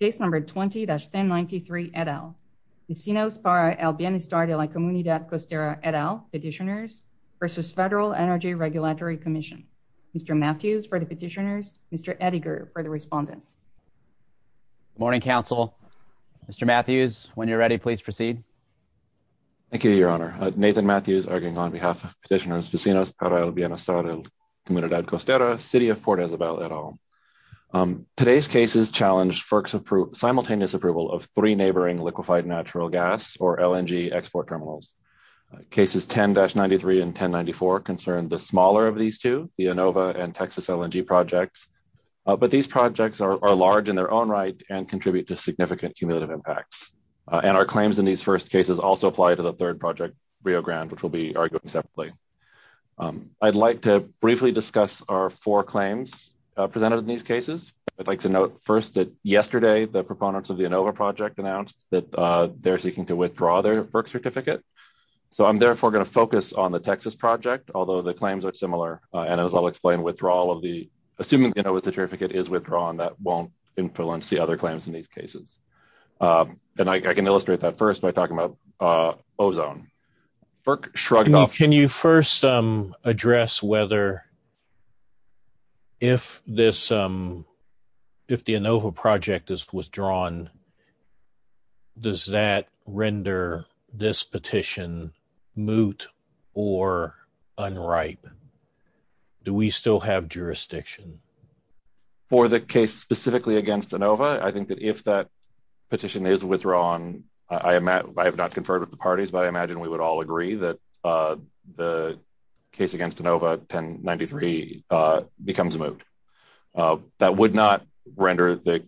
Case number 20-1093 et al. Vecinos para el Bienestar de la Comunidad Costera et al, Petitioners, versus Federal Energy Regulatory Commission. Mr. Matthews for the Petitioners, Mr. Edinger for the Respondents. Good morning, Council. Mr. Matthews, when you're ready, please proceed. Thank you, Your Honor. Nathan Matthews arguing on behalf of Petitioners, Vecinos para el Bienestar de la Comunidad Costera, City of Port Isabel et al. Today's cases challenge FERC's simultaneous approval of three neighboring liquefied natural gas, or LNG, export terminals. Cases 10-93 and 1094 concern the smaller of these two, the Inova and Texas LNG projects, but these projects are large in their own right and contribute to significant cumulative impacts. And our claims in these first cases also apply to the third project, Rio Grande, which we'll be arguing separately. I'd like to briefly discuss our four claims presented in these cases. I'd like to note first that yesterday, the proponents of the Inova project announced that they're seeking to withdraw their FERC certificate. So I'm therefore going to focus on the Texas project, although the claims are similar. And as I'll explain, assuming the certificate is withdrawn, that won't influence the other claims in these cases. And I can shrug it off. Can you first address whether, if the Inova project is withdrawn, does that render this petition moot or unripe? Do we still have jurisdiction? For the case specifically against Inova, I think that if that petition is withdrawn, I have not conferred with the parties, but I imagine we would all agree that the case against Inova 1093 becomes moot. That would not render the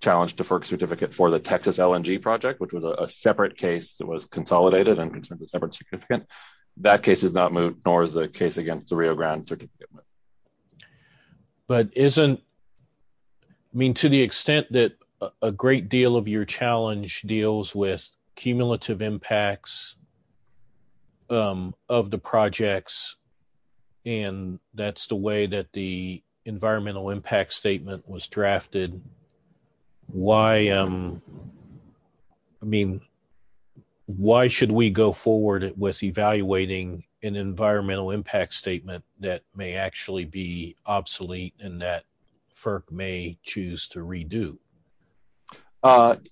challenge to FERC certificate for the Texas LNG project, which was a separate case that was consolidated and considered a separate certificate. That case is not moot, nor is the case against the Rio Grande certificate. But isn't, I mean, to the extent that a great deal of your challenge deals with cumulative impacts of the projects, and that's the way that the environmental impact statement was drafted, why, I mean, why should we go forward with evaluating an environmental impact statement that may actually be obsolete and that FERC may choose to redo?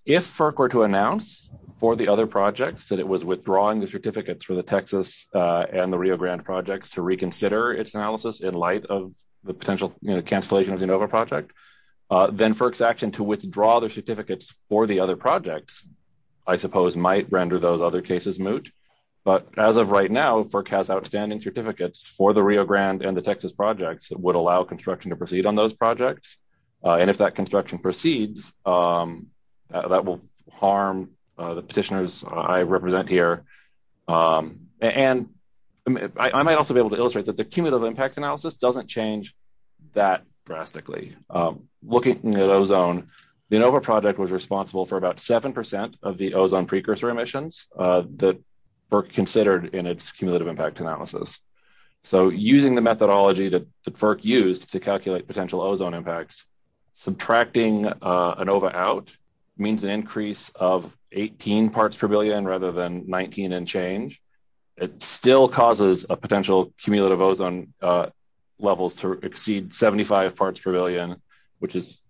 If FERC were to announce for the other projects that it was withdrawing the certificates for the Texas and the Rio Grande projects to reconsider its analysis in light of the potential cancellation of the Inova project, then FERC's action to withdraw the certificates for the other projects, I suppose, might render those other cases moot. But as of right now, FERC has outstanding certificates for the Rio Grande and the Texas projects that would allow construction to proceed on those projects. And if that construction proceeds, that will harm the petitioners I represent here. And I might also be able to illustrate that the cumulative impacts analysis doesn't change that drastically. Looking at ozone, the Inova project was responsible for about 7% of the ozone precursor emissions that FERC considered in its cumulative impact analysis. So using the methodology that FERC used to calculate potential ozone impacts, subtracting Inova out means an increase of 18 parts per billion rather than 19 and change. It still causes a potential cumulative ozone levels to exceed 75 parts per billion, which is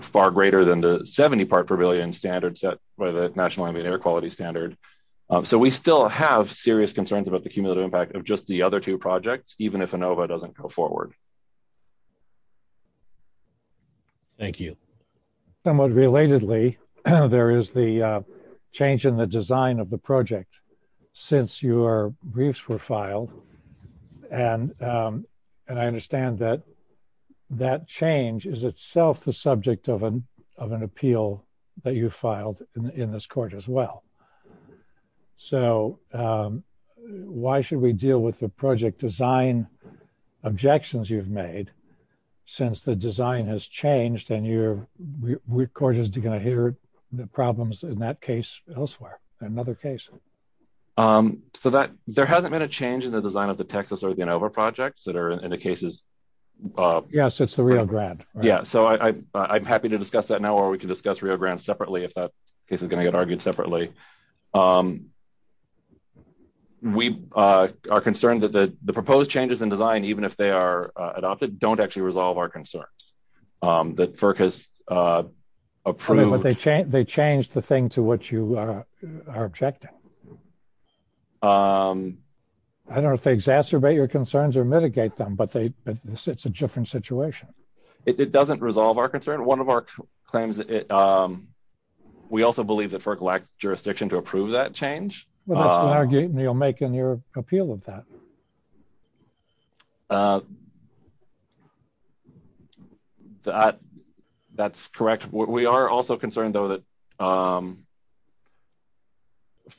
far greater than the 70 part per billion standard set by the National Ambient Air Quality Standard. So we still have serious concerns about the cumulative impact of just the other two projects, even if Inova doesn't go forward. Thank you. Somewhat relatedly, there is the change in the design of the project since your briefs were filed. And I understand that change is itself the subject of an appeal that you filed in this court as well. So why should we deal with the project design objections you've made since the design has changed and your court is going to hear the So that there hasn't been a change in the design of the Texas or the Inova projects that are in the cases. Yes, it's the Rio Grande. Yeah, so I'm happy to discuss that now, or we can discuss Rio Grande separately if that case is going to get argued separately. We are concerned that the proposed changes in design, even if they are adopted, don't actually resolve our concerns that FERC has approved. They changed the thing to which you are objecting. I don't know if they exacerbate your concerns or mitigate them, but it's a different situation. It doesn't resolve our concern. One of our claims, we also believe that FERC lacks jurisdiction to approve that change. That's an argument you'll make in your appeal of that. That's correct. We are also concerned, though, that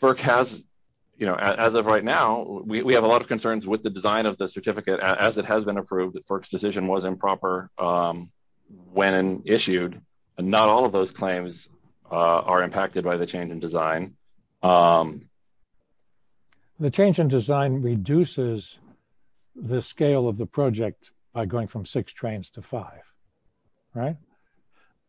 FERC has, you know, as of right now, we have a lot of concerns with the design of the certificate as it has been approved that FERC's decision was improper when issued, and not all of those claims are impacted by the change in design. The change in design reduces the scale of the project by going from six trains to five, right?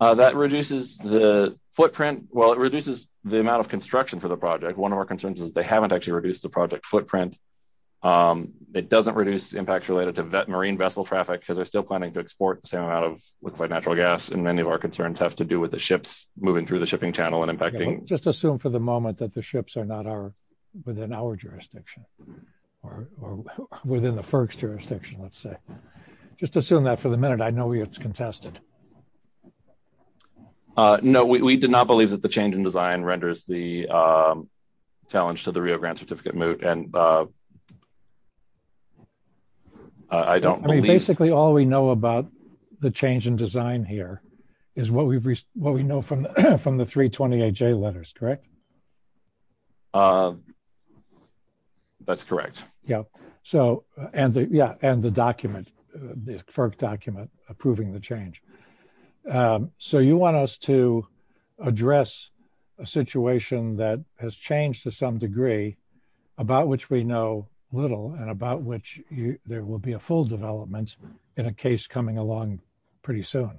That reduces the footprint. Well, it reduces the amount of construction for the project. One of our concerns is they haven't actually reduced the project footprint. It doesn't reduce impacts related to marine vessel traffic because they're still planning to export the same amount of liquid natural gas, and many of our concerns have to do with the ships moving through the that the ships are not within our jurisdiction, or within the FERC's jurisdiction, let's say. Just assume that for the minute, I know it's contested. No, we did not believe that the change in design renders the challenge to the Rio grant certificate moot, and I don't believe— I mean, basically, all we know about the change in design here is what we know from the 328J letters, correct? That's correct. Yeah, and the document, the FERC document approving the change. So you want us to address a situation that has changed to some degree, about which we know little, and about which there will be a full development in a case coming along pretty soon.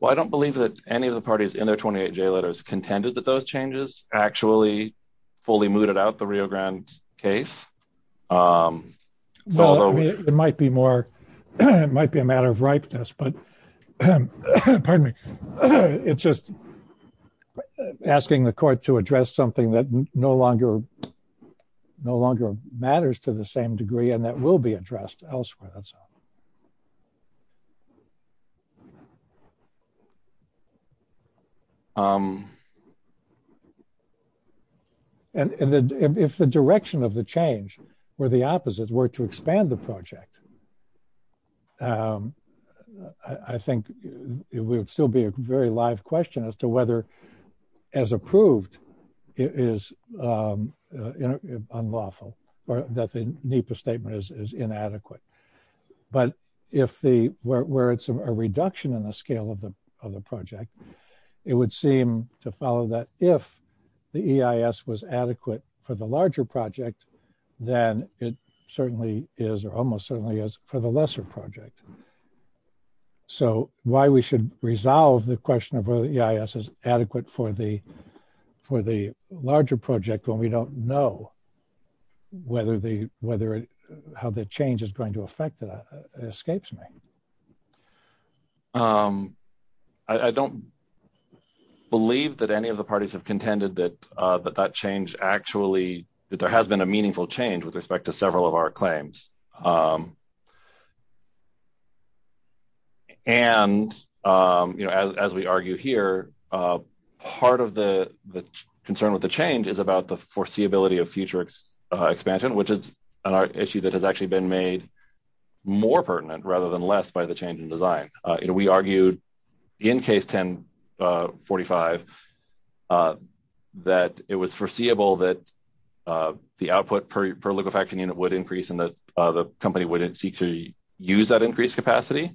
Well, I don't believe that any of the parties in their 28J letters contended that those changes actually fully mooted out the Rio Grande case. Well, it might be more, it might be a matter of ripeness, but, pardon me, it's just asking the court to address something that no longer, no longer matters to the same degree, and that will be addressed elsewhere. And if the direction of the change were the opposite, were to expand the project, I think it would still be a very live question as to whether, as approved, it is a reduction in the scale of the project. It would seem to follow that if the EIS was adequate for the larger project, then it certainly is, or almost certainly is, for the lesser project. So why we should resolve the question of whether the EIS is adequate for the larger project when we don't know how the change is going to affect it escapes me. I don't believe that any of the parties have contended that that change actually, that there has been a meaningful change with respect to several of our claims. And, you know, as we argue here, part of the concern with the change is about the foreseeability of future expansion, which is an issue that has actually been made more pertinent rather than less by the change in design. We argued in Case 10-45 that it was foreseeable that the output per liquefaction unit would increase and that the company would seek to use that increased capacity.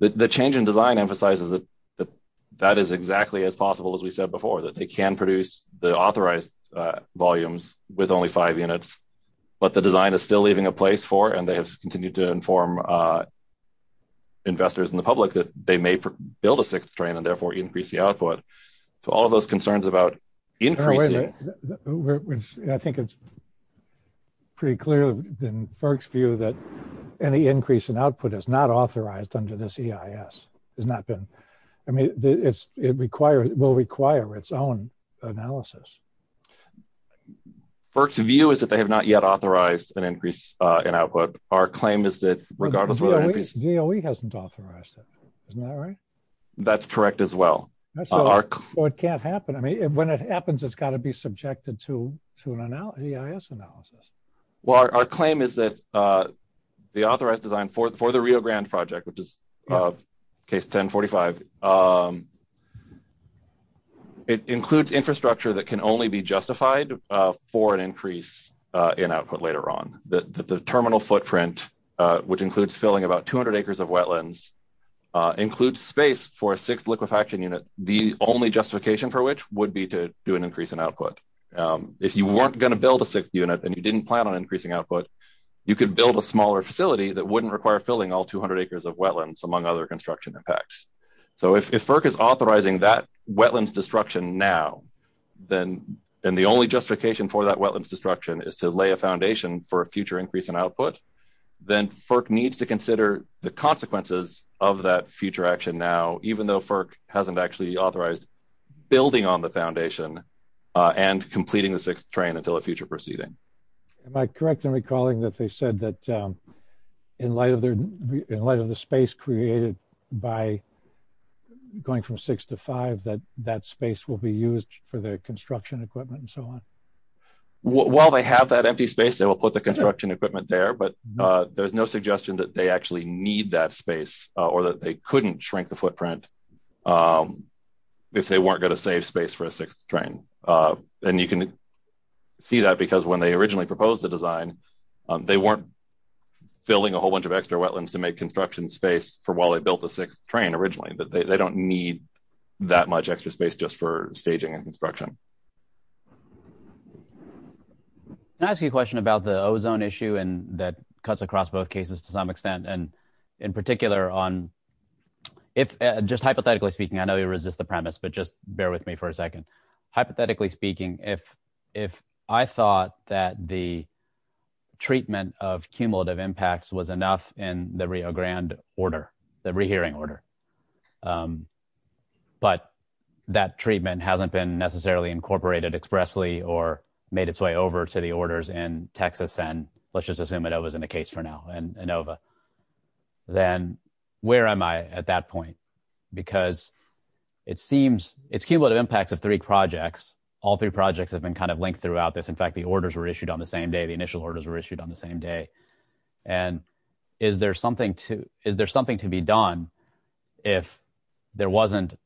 The change in design emphasizes that that is exactly as possible as we said before, that they can produce the authorized volumes with only five units, but the design is still a place for, and they have continued to inform investors and the public that they may build a sixth train and therefore increase the output. So all of those concerns about increasing... I think it's pretty clear in FERC's view that any increase in output is not authorized under this EIS, has not been, I mean, it will require its own analysis. FERC's view is that they have not yet authorized an increase in output. Our claim is that regardless... DOE hasn't authorized it, isn't that right? That's correct as well. So it can't happen. I mean, when it happens, it's got to be subjected to an EIS analysis. Well, our claim is that the authorized design for the Rio Grande project, which is of Case 10-45, it includes infrastructure that can only be justified for an increase in output later on. That the terminal footprint, which includes filling about 200 acres of wetlands, includes space for a sixth liquefaction unit, the only justification for which would be to do an increase in output. If you weren't going to build a sixth unit and you didn't plan on increasing output, you could build a smaller facility that wouldn't require filling all 200 acres of wetlands, among other construction effects. So that's what we're trying to do. If FERC is authorizing that wetlands destruction now, and the only justification for that wetlands destruction is to lay a foundation for a future increase in output, then FERC needs to consider the consequences of that future action now, even though FERC hasn't actually authorized building on the foundation and completing the sixth train until a future proceeding. Am I correct in recalling that they said that in light of the space created by going from six to five, that that space will be used for the construction equipment and so on? While they have that empty space, they will put the construction equipment there, but there's no suggestion that they actually need that space or that they couldn't shrink the footprint if they weren't going to save space for a sixth train. And you can see that because when they originally proposed the design, they weren't filling a whole bunch of extra wetlands to make construction space for while they built the sixth train originally. They don't need that much extra space just for staging and construction. Can I ask you a question about the ozone issue that cuts across both cases to some extent, and in particular, just hypothetically speaking, I know you resist the premise, but just bear with me for a second. Hypothetically speaking, if I thought that the treatment of the re-hearing order, but that treatment hasn't been necessarily incorporated expressly or made its way over to the orders in Texas, and let's just assume it was in the case for now in Inova, then where am I at that point? Because it seems it's cumulative impacts of three projects. All three projects have been kind of linked throughout this. In fact, the orders were issued on the same day. And is there something to be done if there wasn't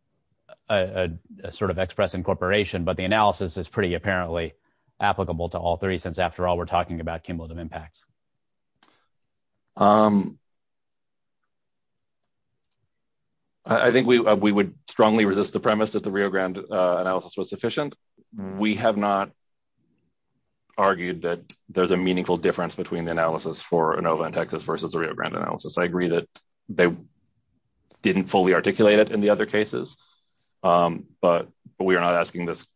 a sort of express incorporation, but the analysis is pretty apparently applicable to all three, since after all, we're talking about cumulative impacts? I think we would strongly resist the premise that the Rio Grande analysis was sufficient. We have not argued that there's a meaningful difference between the analysis for Inova and Texas versus the Rio Grande analysis. I agree that they didn't fully articulate it in the other cases, but we are not asking this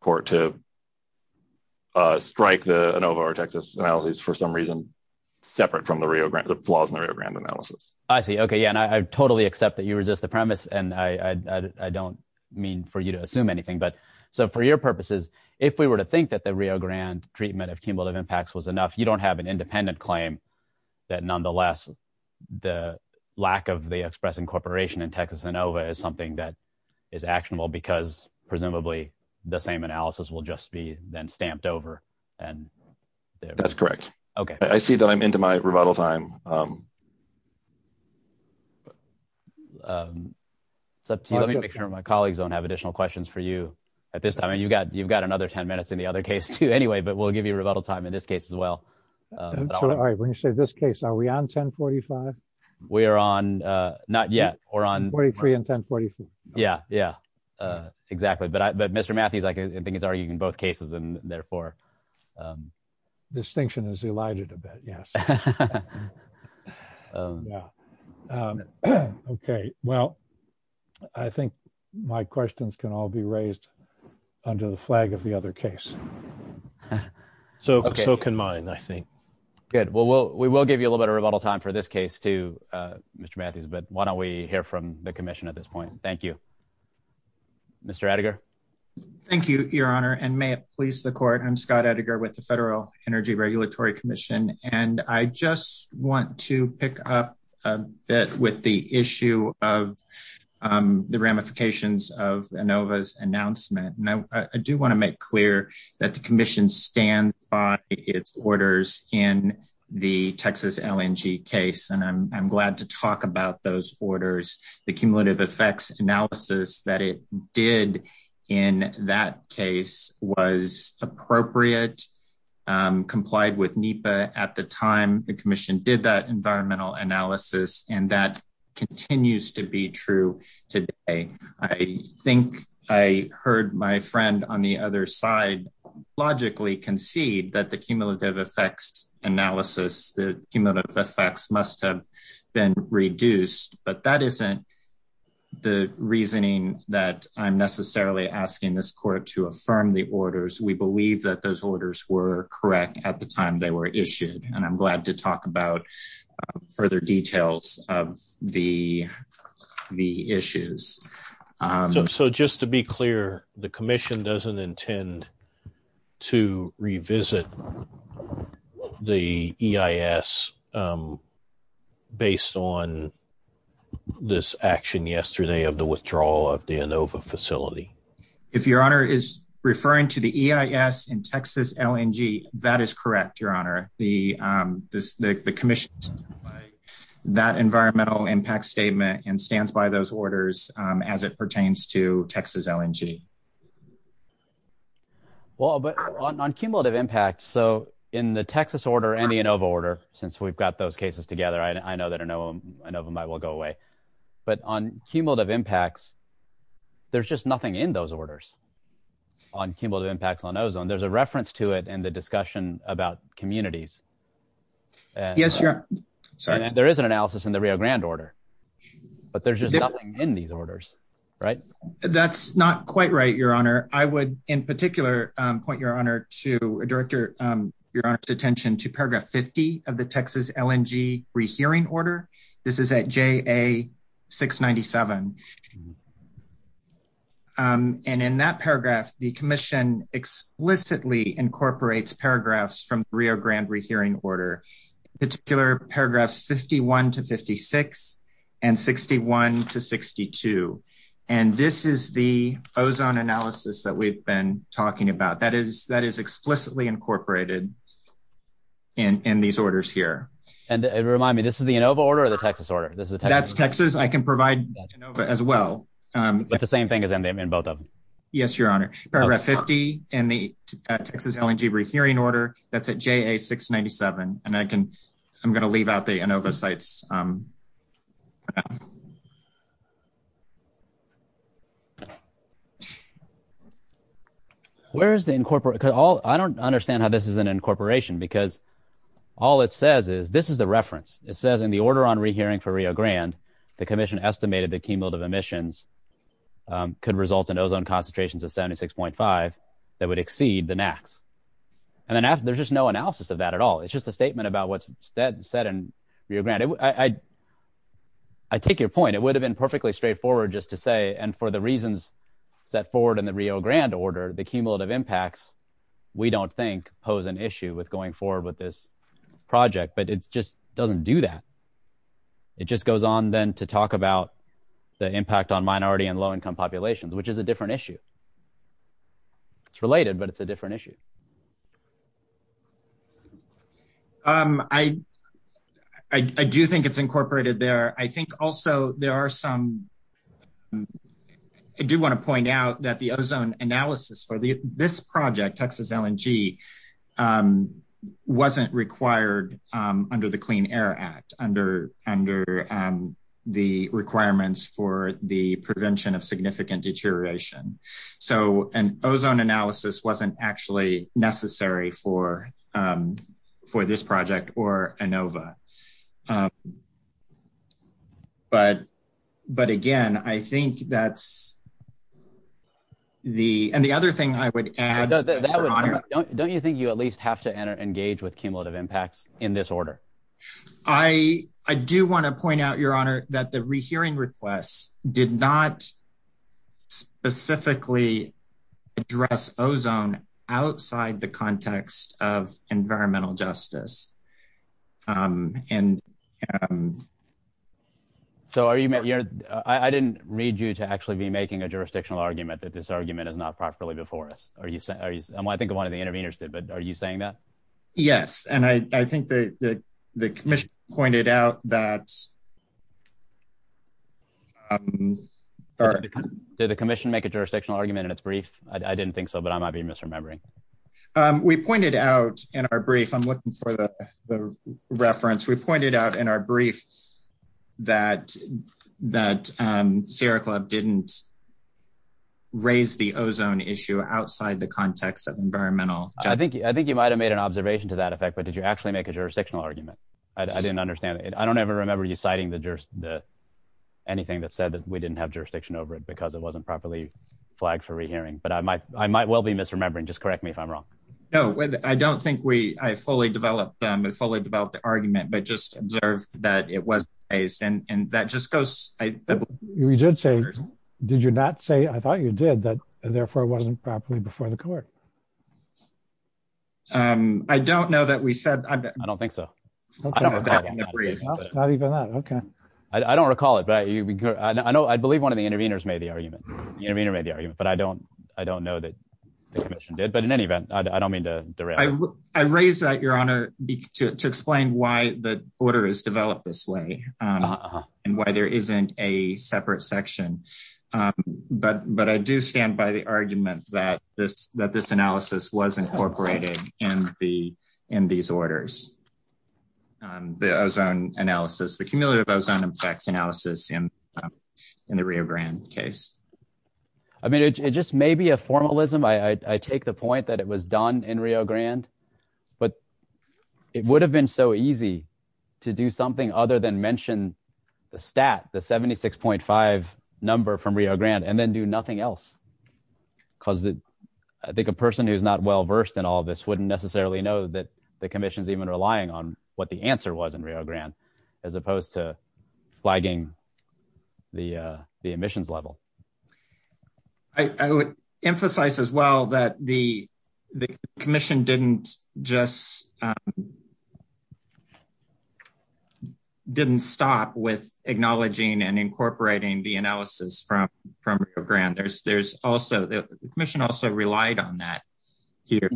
court to strike the Inova or Texas analysis for some reason separate from the Rio Grande, the flaws in the Rio Grande analysis. I see. Okay. Yeah. And I so for your purposes, if we were to think that the Rio Grande treatment of cumulative impacts was enough, you don't have an independent claim that nonetheless, the lack of the express incorporation in Texas Inova is something that is actionable because presumably the same analysis will just be then stamped over. And that's correct. Okay. I see that I'm into my rebuttal time. It's up to you. Let me make sure my colleagues don't have additional questions for you at this time. I mean, you've got another 10 minutes in the other case too, anyway, but we'll give you rebuttal time in this case as well. All right. When you say this case, are we on 1045? We are on, not yet. We're on 43 and 1045. Yeah. Yeah. Exactly. But Mr. Matthews, I think he's arguing in both cases and therefore. Distinction is elided a bit. Yes. Yeah. Okay. Well, I think my questions can all be raised under the flag of the other case. So, so can mine, I think. Good. Well, we will give you a little bit of rebuttal time for this case too, Mr. Matthews, but why don't we hear from the commission at this point? Thank you. Mr. Edgar. Thank you, your honor and may it please the court. I'm Scott Edgar with the Federal Energy Regulatory Commission. And I just want to pick up a bit with the issue of the ramifications of ANOVA's announcement. And I do want to make clear that the commission stands by its orders in the Texas LNG case. And I'm glad to talk about those orders. The cumulative effects analysis that did in that case was appropriate, complied with NEPA at the time the commission did that environmental analysis. And that continues to be true today. I think I heard my friend on the other side, logically concede that the cumulative effects analysis, the cumulative effects must have been reduced, but that isn't the reasoning that I'm necessarily asking this court to affirm the orders. We believe that those orders were correct at the time they were issued. And I'm glad to talk about further details of the, the issues. So just to be clear, the commission doesn't intend to revisit the EIS based on this action yesterday of the withdrawal of the ANOVA facility. If your honor is referring to the EIS in Texas LNG, that is correct, your honor. The commission that environmental impact statement and stands by those orders as it pertains to Texas LNG. Well, but on cumulative impacts, so in the Texas order and the ANOVA order, since we've got those cases together, I know that ANOVA might well go away, but on cumulative impacts, there's just nothing in those orders on cumulative impacts on ozone. There's a reference to it in the discussion about communities. And there is an analysis in the Rio Grande order, but there's just nothing in these orders, right? That's not quite right, your honor. I would in particular point your honor to a director, your honor's attention to paragraph 50 of the Texas LNG rehearing order. This is at JA 697. And in that paragraph, the commission explicitly incorporates paragraphs from Rio Grande rehearing order, particular paragraphs 51 to 56 and 61 to 62. And this is the ozone analysis that we've been talking about. That is explicitly incorporated in these orders here. And remind me, this is the ANOVA order or the Texas order? That's Texas. I can provide ANOVA as well. But the same thing is in both of them. Yes, your honor. Paragraph 50 and the Texas LNG rehearing order that's at JA 697. And I can, I'm going to leave out the ANOVA sites. Where is the incorporation? I don't understand how this is an incorporation because all it says is, this is the reference. It says in the order on rehearing for Rio Grande, the commission estimated the cumulative emissions could result in ozone concentrations of 76.5 that would exceed the max. And then there's just no analysis of that at all. It's just a statement about what's said in Rio Grande. I take your point. It would have been perfectly straightforward just to say, and for the reasons set forward in the Rio Grande order, the cumulative impacts, we don't think pose an issue with going forward with this project, but it just doesn't do that. It just goes on then to talk about the impact on minority and low-income populations, which is a different issue. It's related, but it's a different issue. I do think it's incorporated there. I think also there are some, I do want to point out that the ozone analysis for this project, Texas LNG, wasn't required under the Clean Air Act, under the requirements for the prevention of significant deterioration. So an ozone analysis wasn't actually necessary for this project or ANOVA. But again, I think that's the, and the other thing I would add- Don't you think you at least have to engage with cumulative impacts in this order? I do want to point out, Your Honor, that the rehearing requests did not specifically address ozone outside the context of environmental justice. I didn't read you to actually be making a jurisdictional argument that this argument is not properly before us. I think one of the interveners did, but are you saying that? Yes, and I think the commission pointed out that- Did the commission make a jurisdictional argument in its brief? I didn't think so, but I might be misremembering. We pointed out in our brief, I'm looking for the reference. We pointed out in our brief that Sierra Club didn't raise the ozone issue outside the context of environmental- I think you might've made an observation to that effect, but did you actually make a jurisdictional argument? I didn't understand it. I don't ever remember you citing the- anything that said that we didn't have jurisdiction over it because it wasn't properly flagged for rehearing, but I might well be misremembering. Just correct me if I'm wrong. No, I don't think I fully developed the argument, but just observed that it was raised, and that just goes- We did say- Did you not say, I thought you did, that therefore it wasn't properly before the court? I don't know that we said- I don't think so. I don't recall that. Not even that, okay. I don't recall it, but I believe one of the interveners made the argument, the intervener made the argument, but I don't know that the commission did, but in any event, I don't mean to derail- I raise that, Your Honor, to explain why the order is developed this way and why there isn't a separate section, but I do stand by the argument that this analysis was incorporated in these orders, the ozone analysis, the cumulative ozone effects analysis in the Rio Grande case. I mean, it just may be a formalism. I take the point that it was done in Rio Grande, but it would have been so easy to do something other than mention the stat, the 76.5 number from Rio Grande and then do nothing else because I think a person who's not well-versed in all this wouldn't necessarily know that the commission's even relying on what the answer was in Rio Grande as opposed to flagging the emissions level. I would emphasize as well that the commission didn't just- from Rio Grande. The commission also relied on that here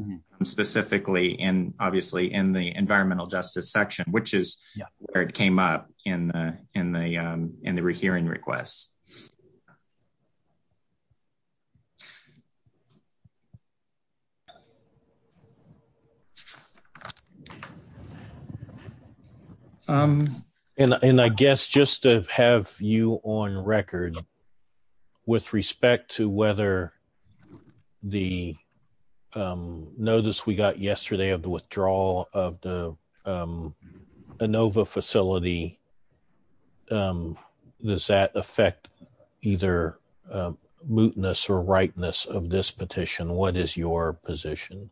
specifically and obviously in the environmental justice section, which is where it came up in the hearing requests. And I guess just to have you on record with respect to whether the notice we got yesterday of the withdrawal of the Inova facility, does that affect either mootness or rightness of this petition? What is your position?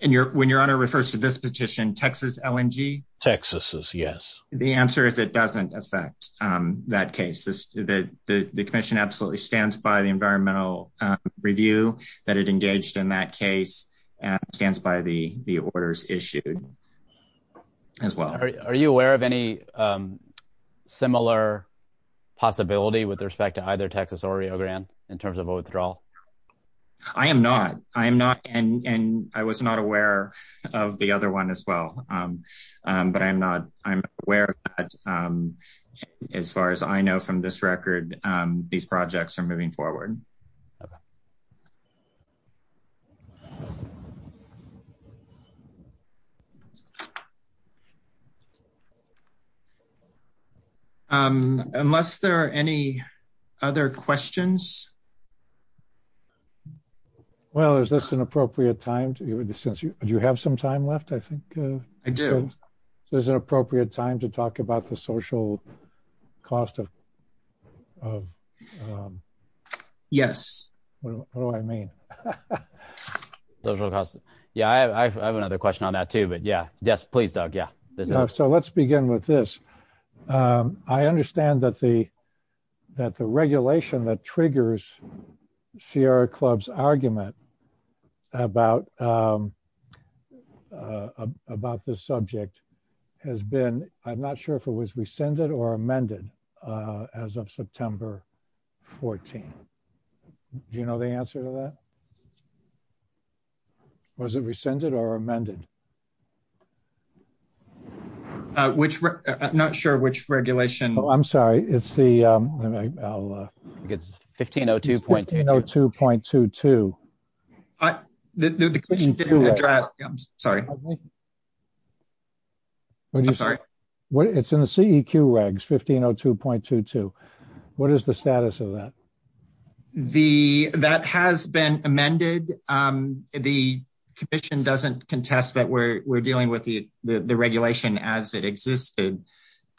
And when your honor refers to this petition, Texas LNG? Texas is, yes. The answer is it doesn't affect that case. The commission absolutely stands by the environmental review that it engaged in that case and stands by the orders issued as well. Are you aware of any similar possibility with respect to either Texas or Rio Grande in terms of a withdrawal? I am not. I am not. And I was not aware of the other one as well. But I'm aware that as far as I know from this record, these projects are moving forward. Thank you. Unless there are any other questions? Well, is this an appropriate time? Do you have some time left, I think? I do. So is it an appropriate time to talk about the social cost of- Yes. What do I mean? Yeah, I have another question on that too. But yeah, yes, please, Doug. Yeah. Let's begin with this. I understand that the regulation that triggers Sierra Club's argument about this subject has been, I'm not sure if it was rescinded or amended as of September 14. Do you know the answer to that? I'm not sure which regulation- Oh, I'm sorry. It's the- I think it's 1502.22. 1502.22. The question didn't address- I'm sorry. It's in the CEQ regs, 1502.22. What is the status of that? That has been amended. The commission doesn't contest that we're dealing with the regulation as it existed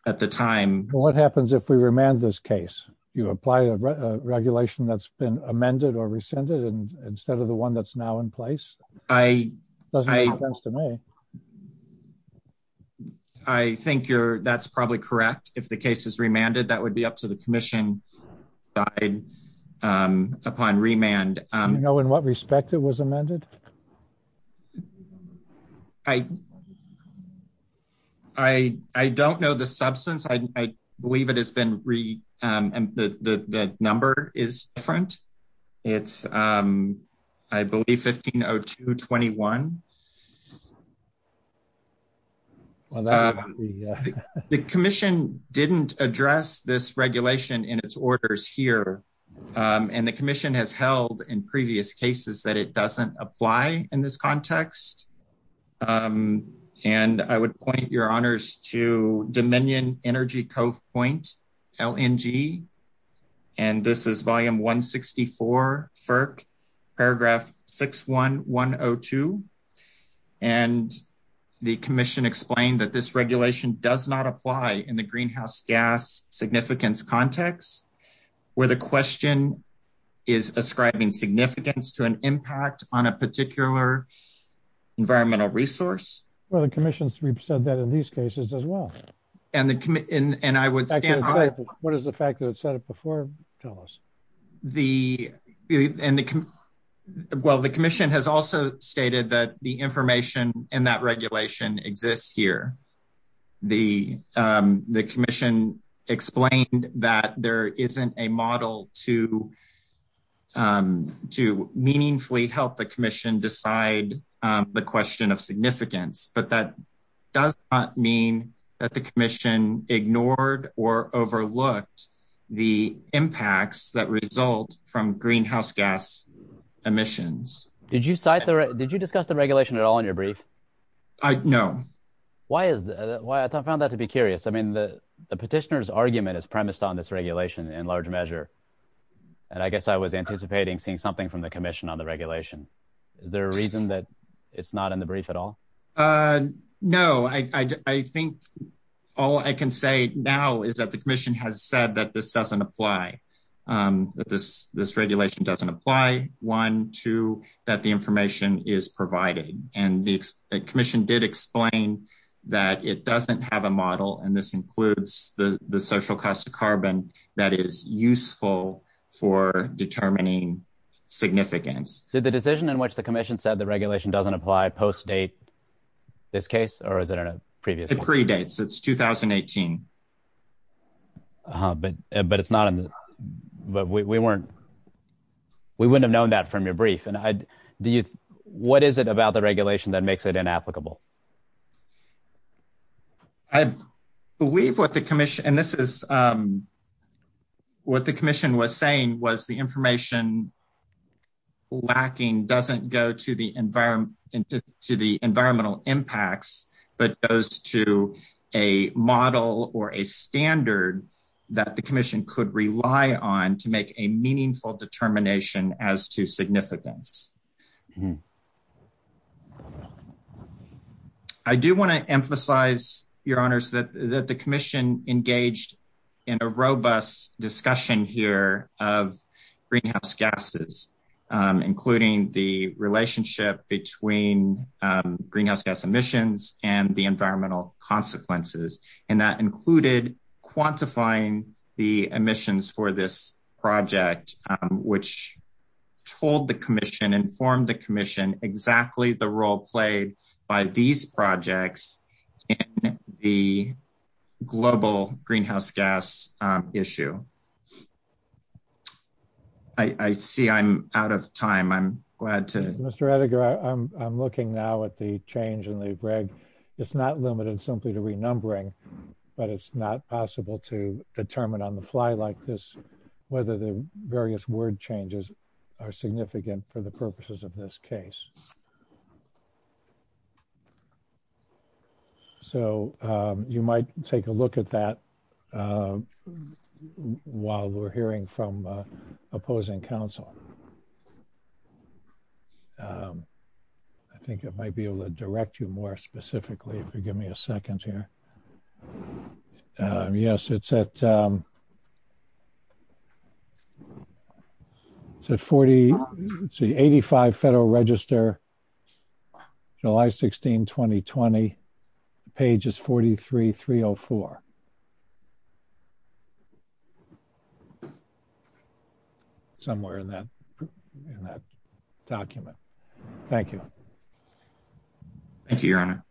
at the time. What happens if we remand this case? You apply a regulation that's been amended or rescinded instead of the one that's now in place? It doesn't make sense to me. I think that's probably correct. If the case is remanded, that would be up to the commission upon remand. Do you know in what respect it was amended? I don't know the substance. I believe the number is different. It's, I believe, 1502.21. The commission didn't address this regulation in its orders here. And the commission has held in previous cases that it doesn't apply in this context. And I would point your honors to Dominion Energy Cove Point, LNG. And this is volume 164, FERC, paragraph 61102. And the commission explained that this regulation does not apply in the greenhouse gas significance context where the question is ascribing significance to an impact on a particular environmental resource. Well, the commission's said that in these cases as well. And I would stand by it. What is the fact that it said it before, Thomas? Well, the commission has also stated that the information in that regulation exists here. The commission explained that there isn't a model to meaningfully help the commission decide the question of significance. But that does not mean that the commission ignored or overlooked the impacts that result from greenhouse gas emissions. Did you discuss the regulation at all in your brief? No. Why is that? I found that to be curious. I mean, the petitioner's argument is premised on this regulation in large measure. And I guess I was anticipating seeing something from the commission on the regulation. Is there a reason that it's not in the brief at all? No. I think all I can say now is that the commission has said that this doesn't apply, that this regulation doesn't apply, one. Two, that the information is provided. And the commission did explain that it doesn't have a model. And this includes the social cost of carbon that is useful for determining significance. Did the decision in which the commission said the regulation doesn't apply post-date this case? Or is it in a previous case? It predates. It's 2018. But we wouldn't have known that from your brief. What is it about the regulation that makes it inapplicable? I believe what the commission was saying was the information lacking doesn't go to the environmental impacts, but goes to a model or a standard that the commission could rely on to make a meaningful determination as to significance. I do want to emphasize, Your Honors, that the commission engaged in a robust discussion here of greenhouse gases, including the relationship between greenhouse gas emissions and the environmental consequences. And that included quantifying the emissions for this project, which informed the commission exactly the role played by these projects in the global greenhouse gas issue. I see I'm out of time. I'm glad to... Mr. Ettinger, I'm looking now at the change in the reg. It's not limited simply to renumbering, but it's not possible to determine on the fly like this whether the various word changes are significant for the purposes of this case. So, you might take a look at that while we're hearing from opposing counsel. I think it might be able to direct you more specifically. If you give me a second here. Yes, it's at... Let's see. 85 Federal Register, July 16, 2020, pages 43-304. Somewhere in that document. Thank you. Thank you, Your Honor.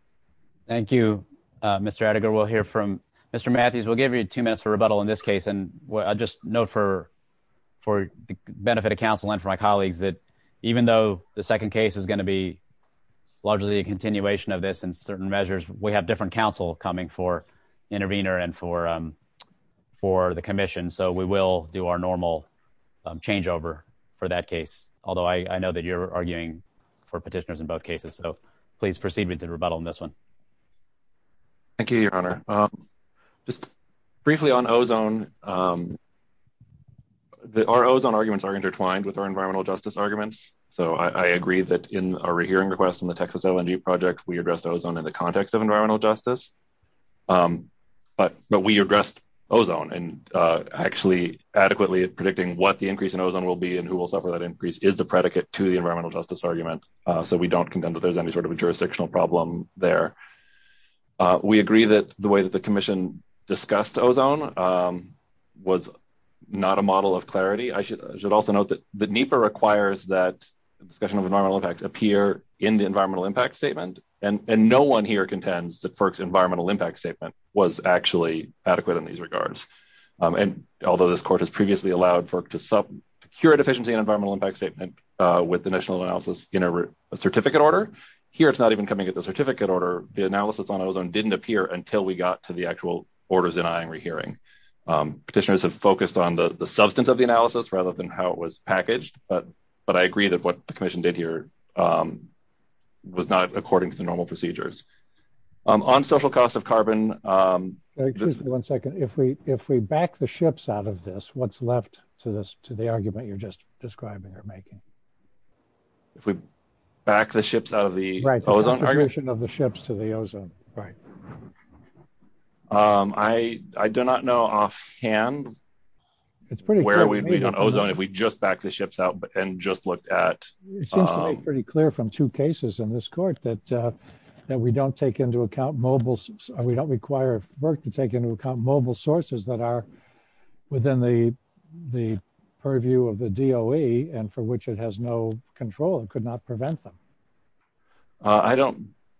Thank you, Mr. Ettinger. We'll hear from Mr. Matthews. We'll give you two minutes for rebuttal in this case. I'll just note for the benefit of counsel and for my colleagues that even though the second case is going to be largely a continuation of this in certain measures, we have different counsel coming for intervener and for the commission. So, we will do our normal changeover for that case. Although, I know that you're arguing for petitioners in both cases. So, please proceed with the rebuttal in this one. Thank you, Your Honor. Just briefly on ozone. Our ozone arguments are intertwined with our environmental justice arguments. So, I agree that in our hearing request on the Texas LNG project, we addressed ozone in the context of environmental justice. But we addressed ozone and actually adequately predicting what the increase in ozone will be and who will suffer that increase is the predicate to the environmental justice argument. So, we don't contend that there's any sort of a jurisdictional problem there. We agree that the way that the commission discussed ozone was not a model of clarity. I should also note that the NEPA requires that the discussion of environmental impacts appear in the environmental impact statement. And no one here contends that FERC's environmental impact statement was actually adequate in these regards. And although this court has previously allowed FERC to secure a deficiency in environmental impact statement with initial analysis in a certificate order, here it's not even coming to the certificate order. The analysis on ozone didn't appear until we got to the actual orders in our hearing. Petitioners have focused on the substance of the analysis rather than how it was packaged. But I agree that what the commission did here was not according to the normal procedures. On social cost of carbon. Excuse me one second. If we back the ships out of this, what's left to the argument you're just describing or making? If we back the ships out of the ozone argument? What's the contribution of the ships to the ozone? Right. I do not know offhand. It's pretty clear. Where we'd be on ozone if we just back the ships out and just looked at. It seems to be pretty clear from two cases in this court that we don't take into account mobile. We don't require FERC to take into account mobile sources that are within the purview of the DOE and for which it has no control and could not prevent them. I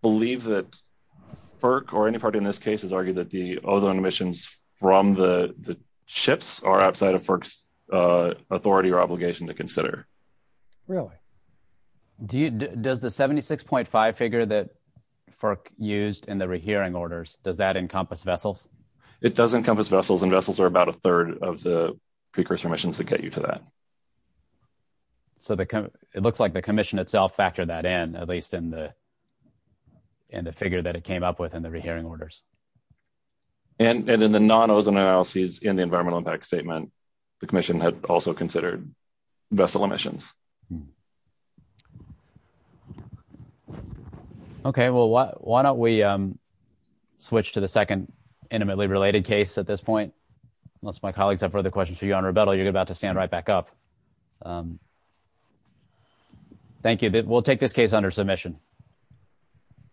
believe that FERC or any party in this case has argued that the ozone emissions from the ships are outside of FERC's authority or obligation to consider. Really? Does the 76.5 figure that FERC used in the rehearing orders, does that encompass vessels? It does encompass vessels and vessels are about a third of the precursor emissions that get you to that. So it looks like the commission itself factored that in, at least in the figure that it came up with in the rehearing orders. And in the non-ozone analysis in the environmental impact statement, the commission had also considered vessel emissions. Okay, well, why don't we switch to the second intimately related case at this point? Unless my colleagues have further questions for you on rebuttal, you're about to stand right back up. Thank you. We'll take this case under submission.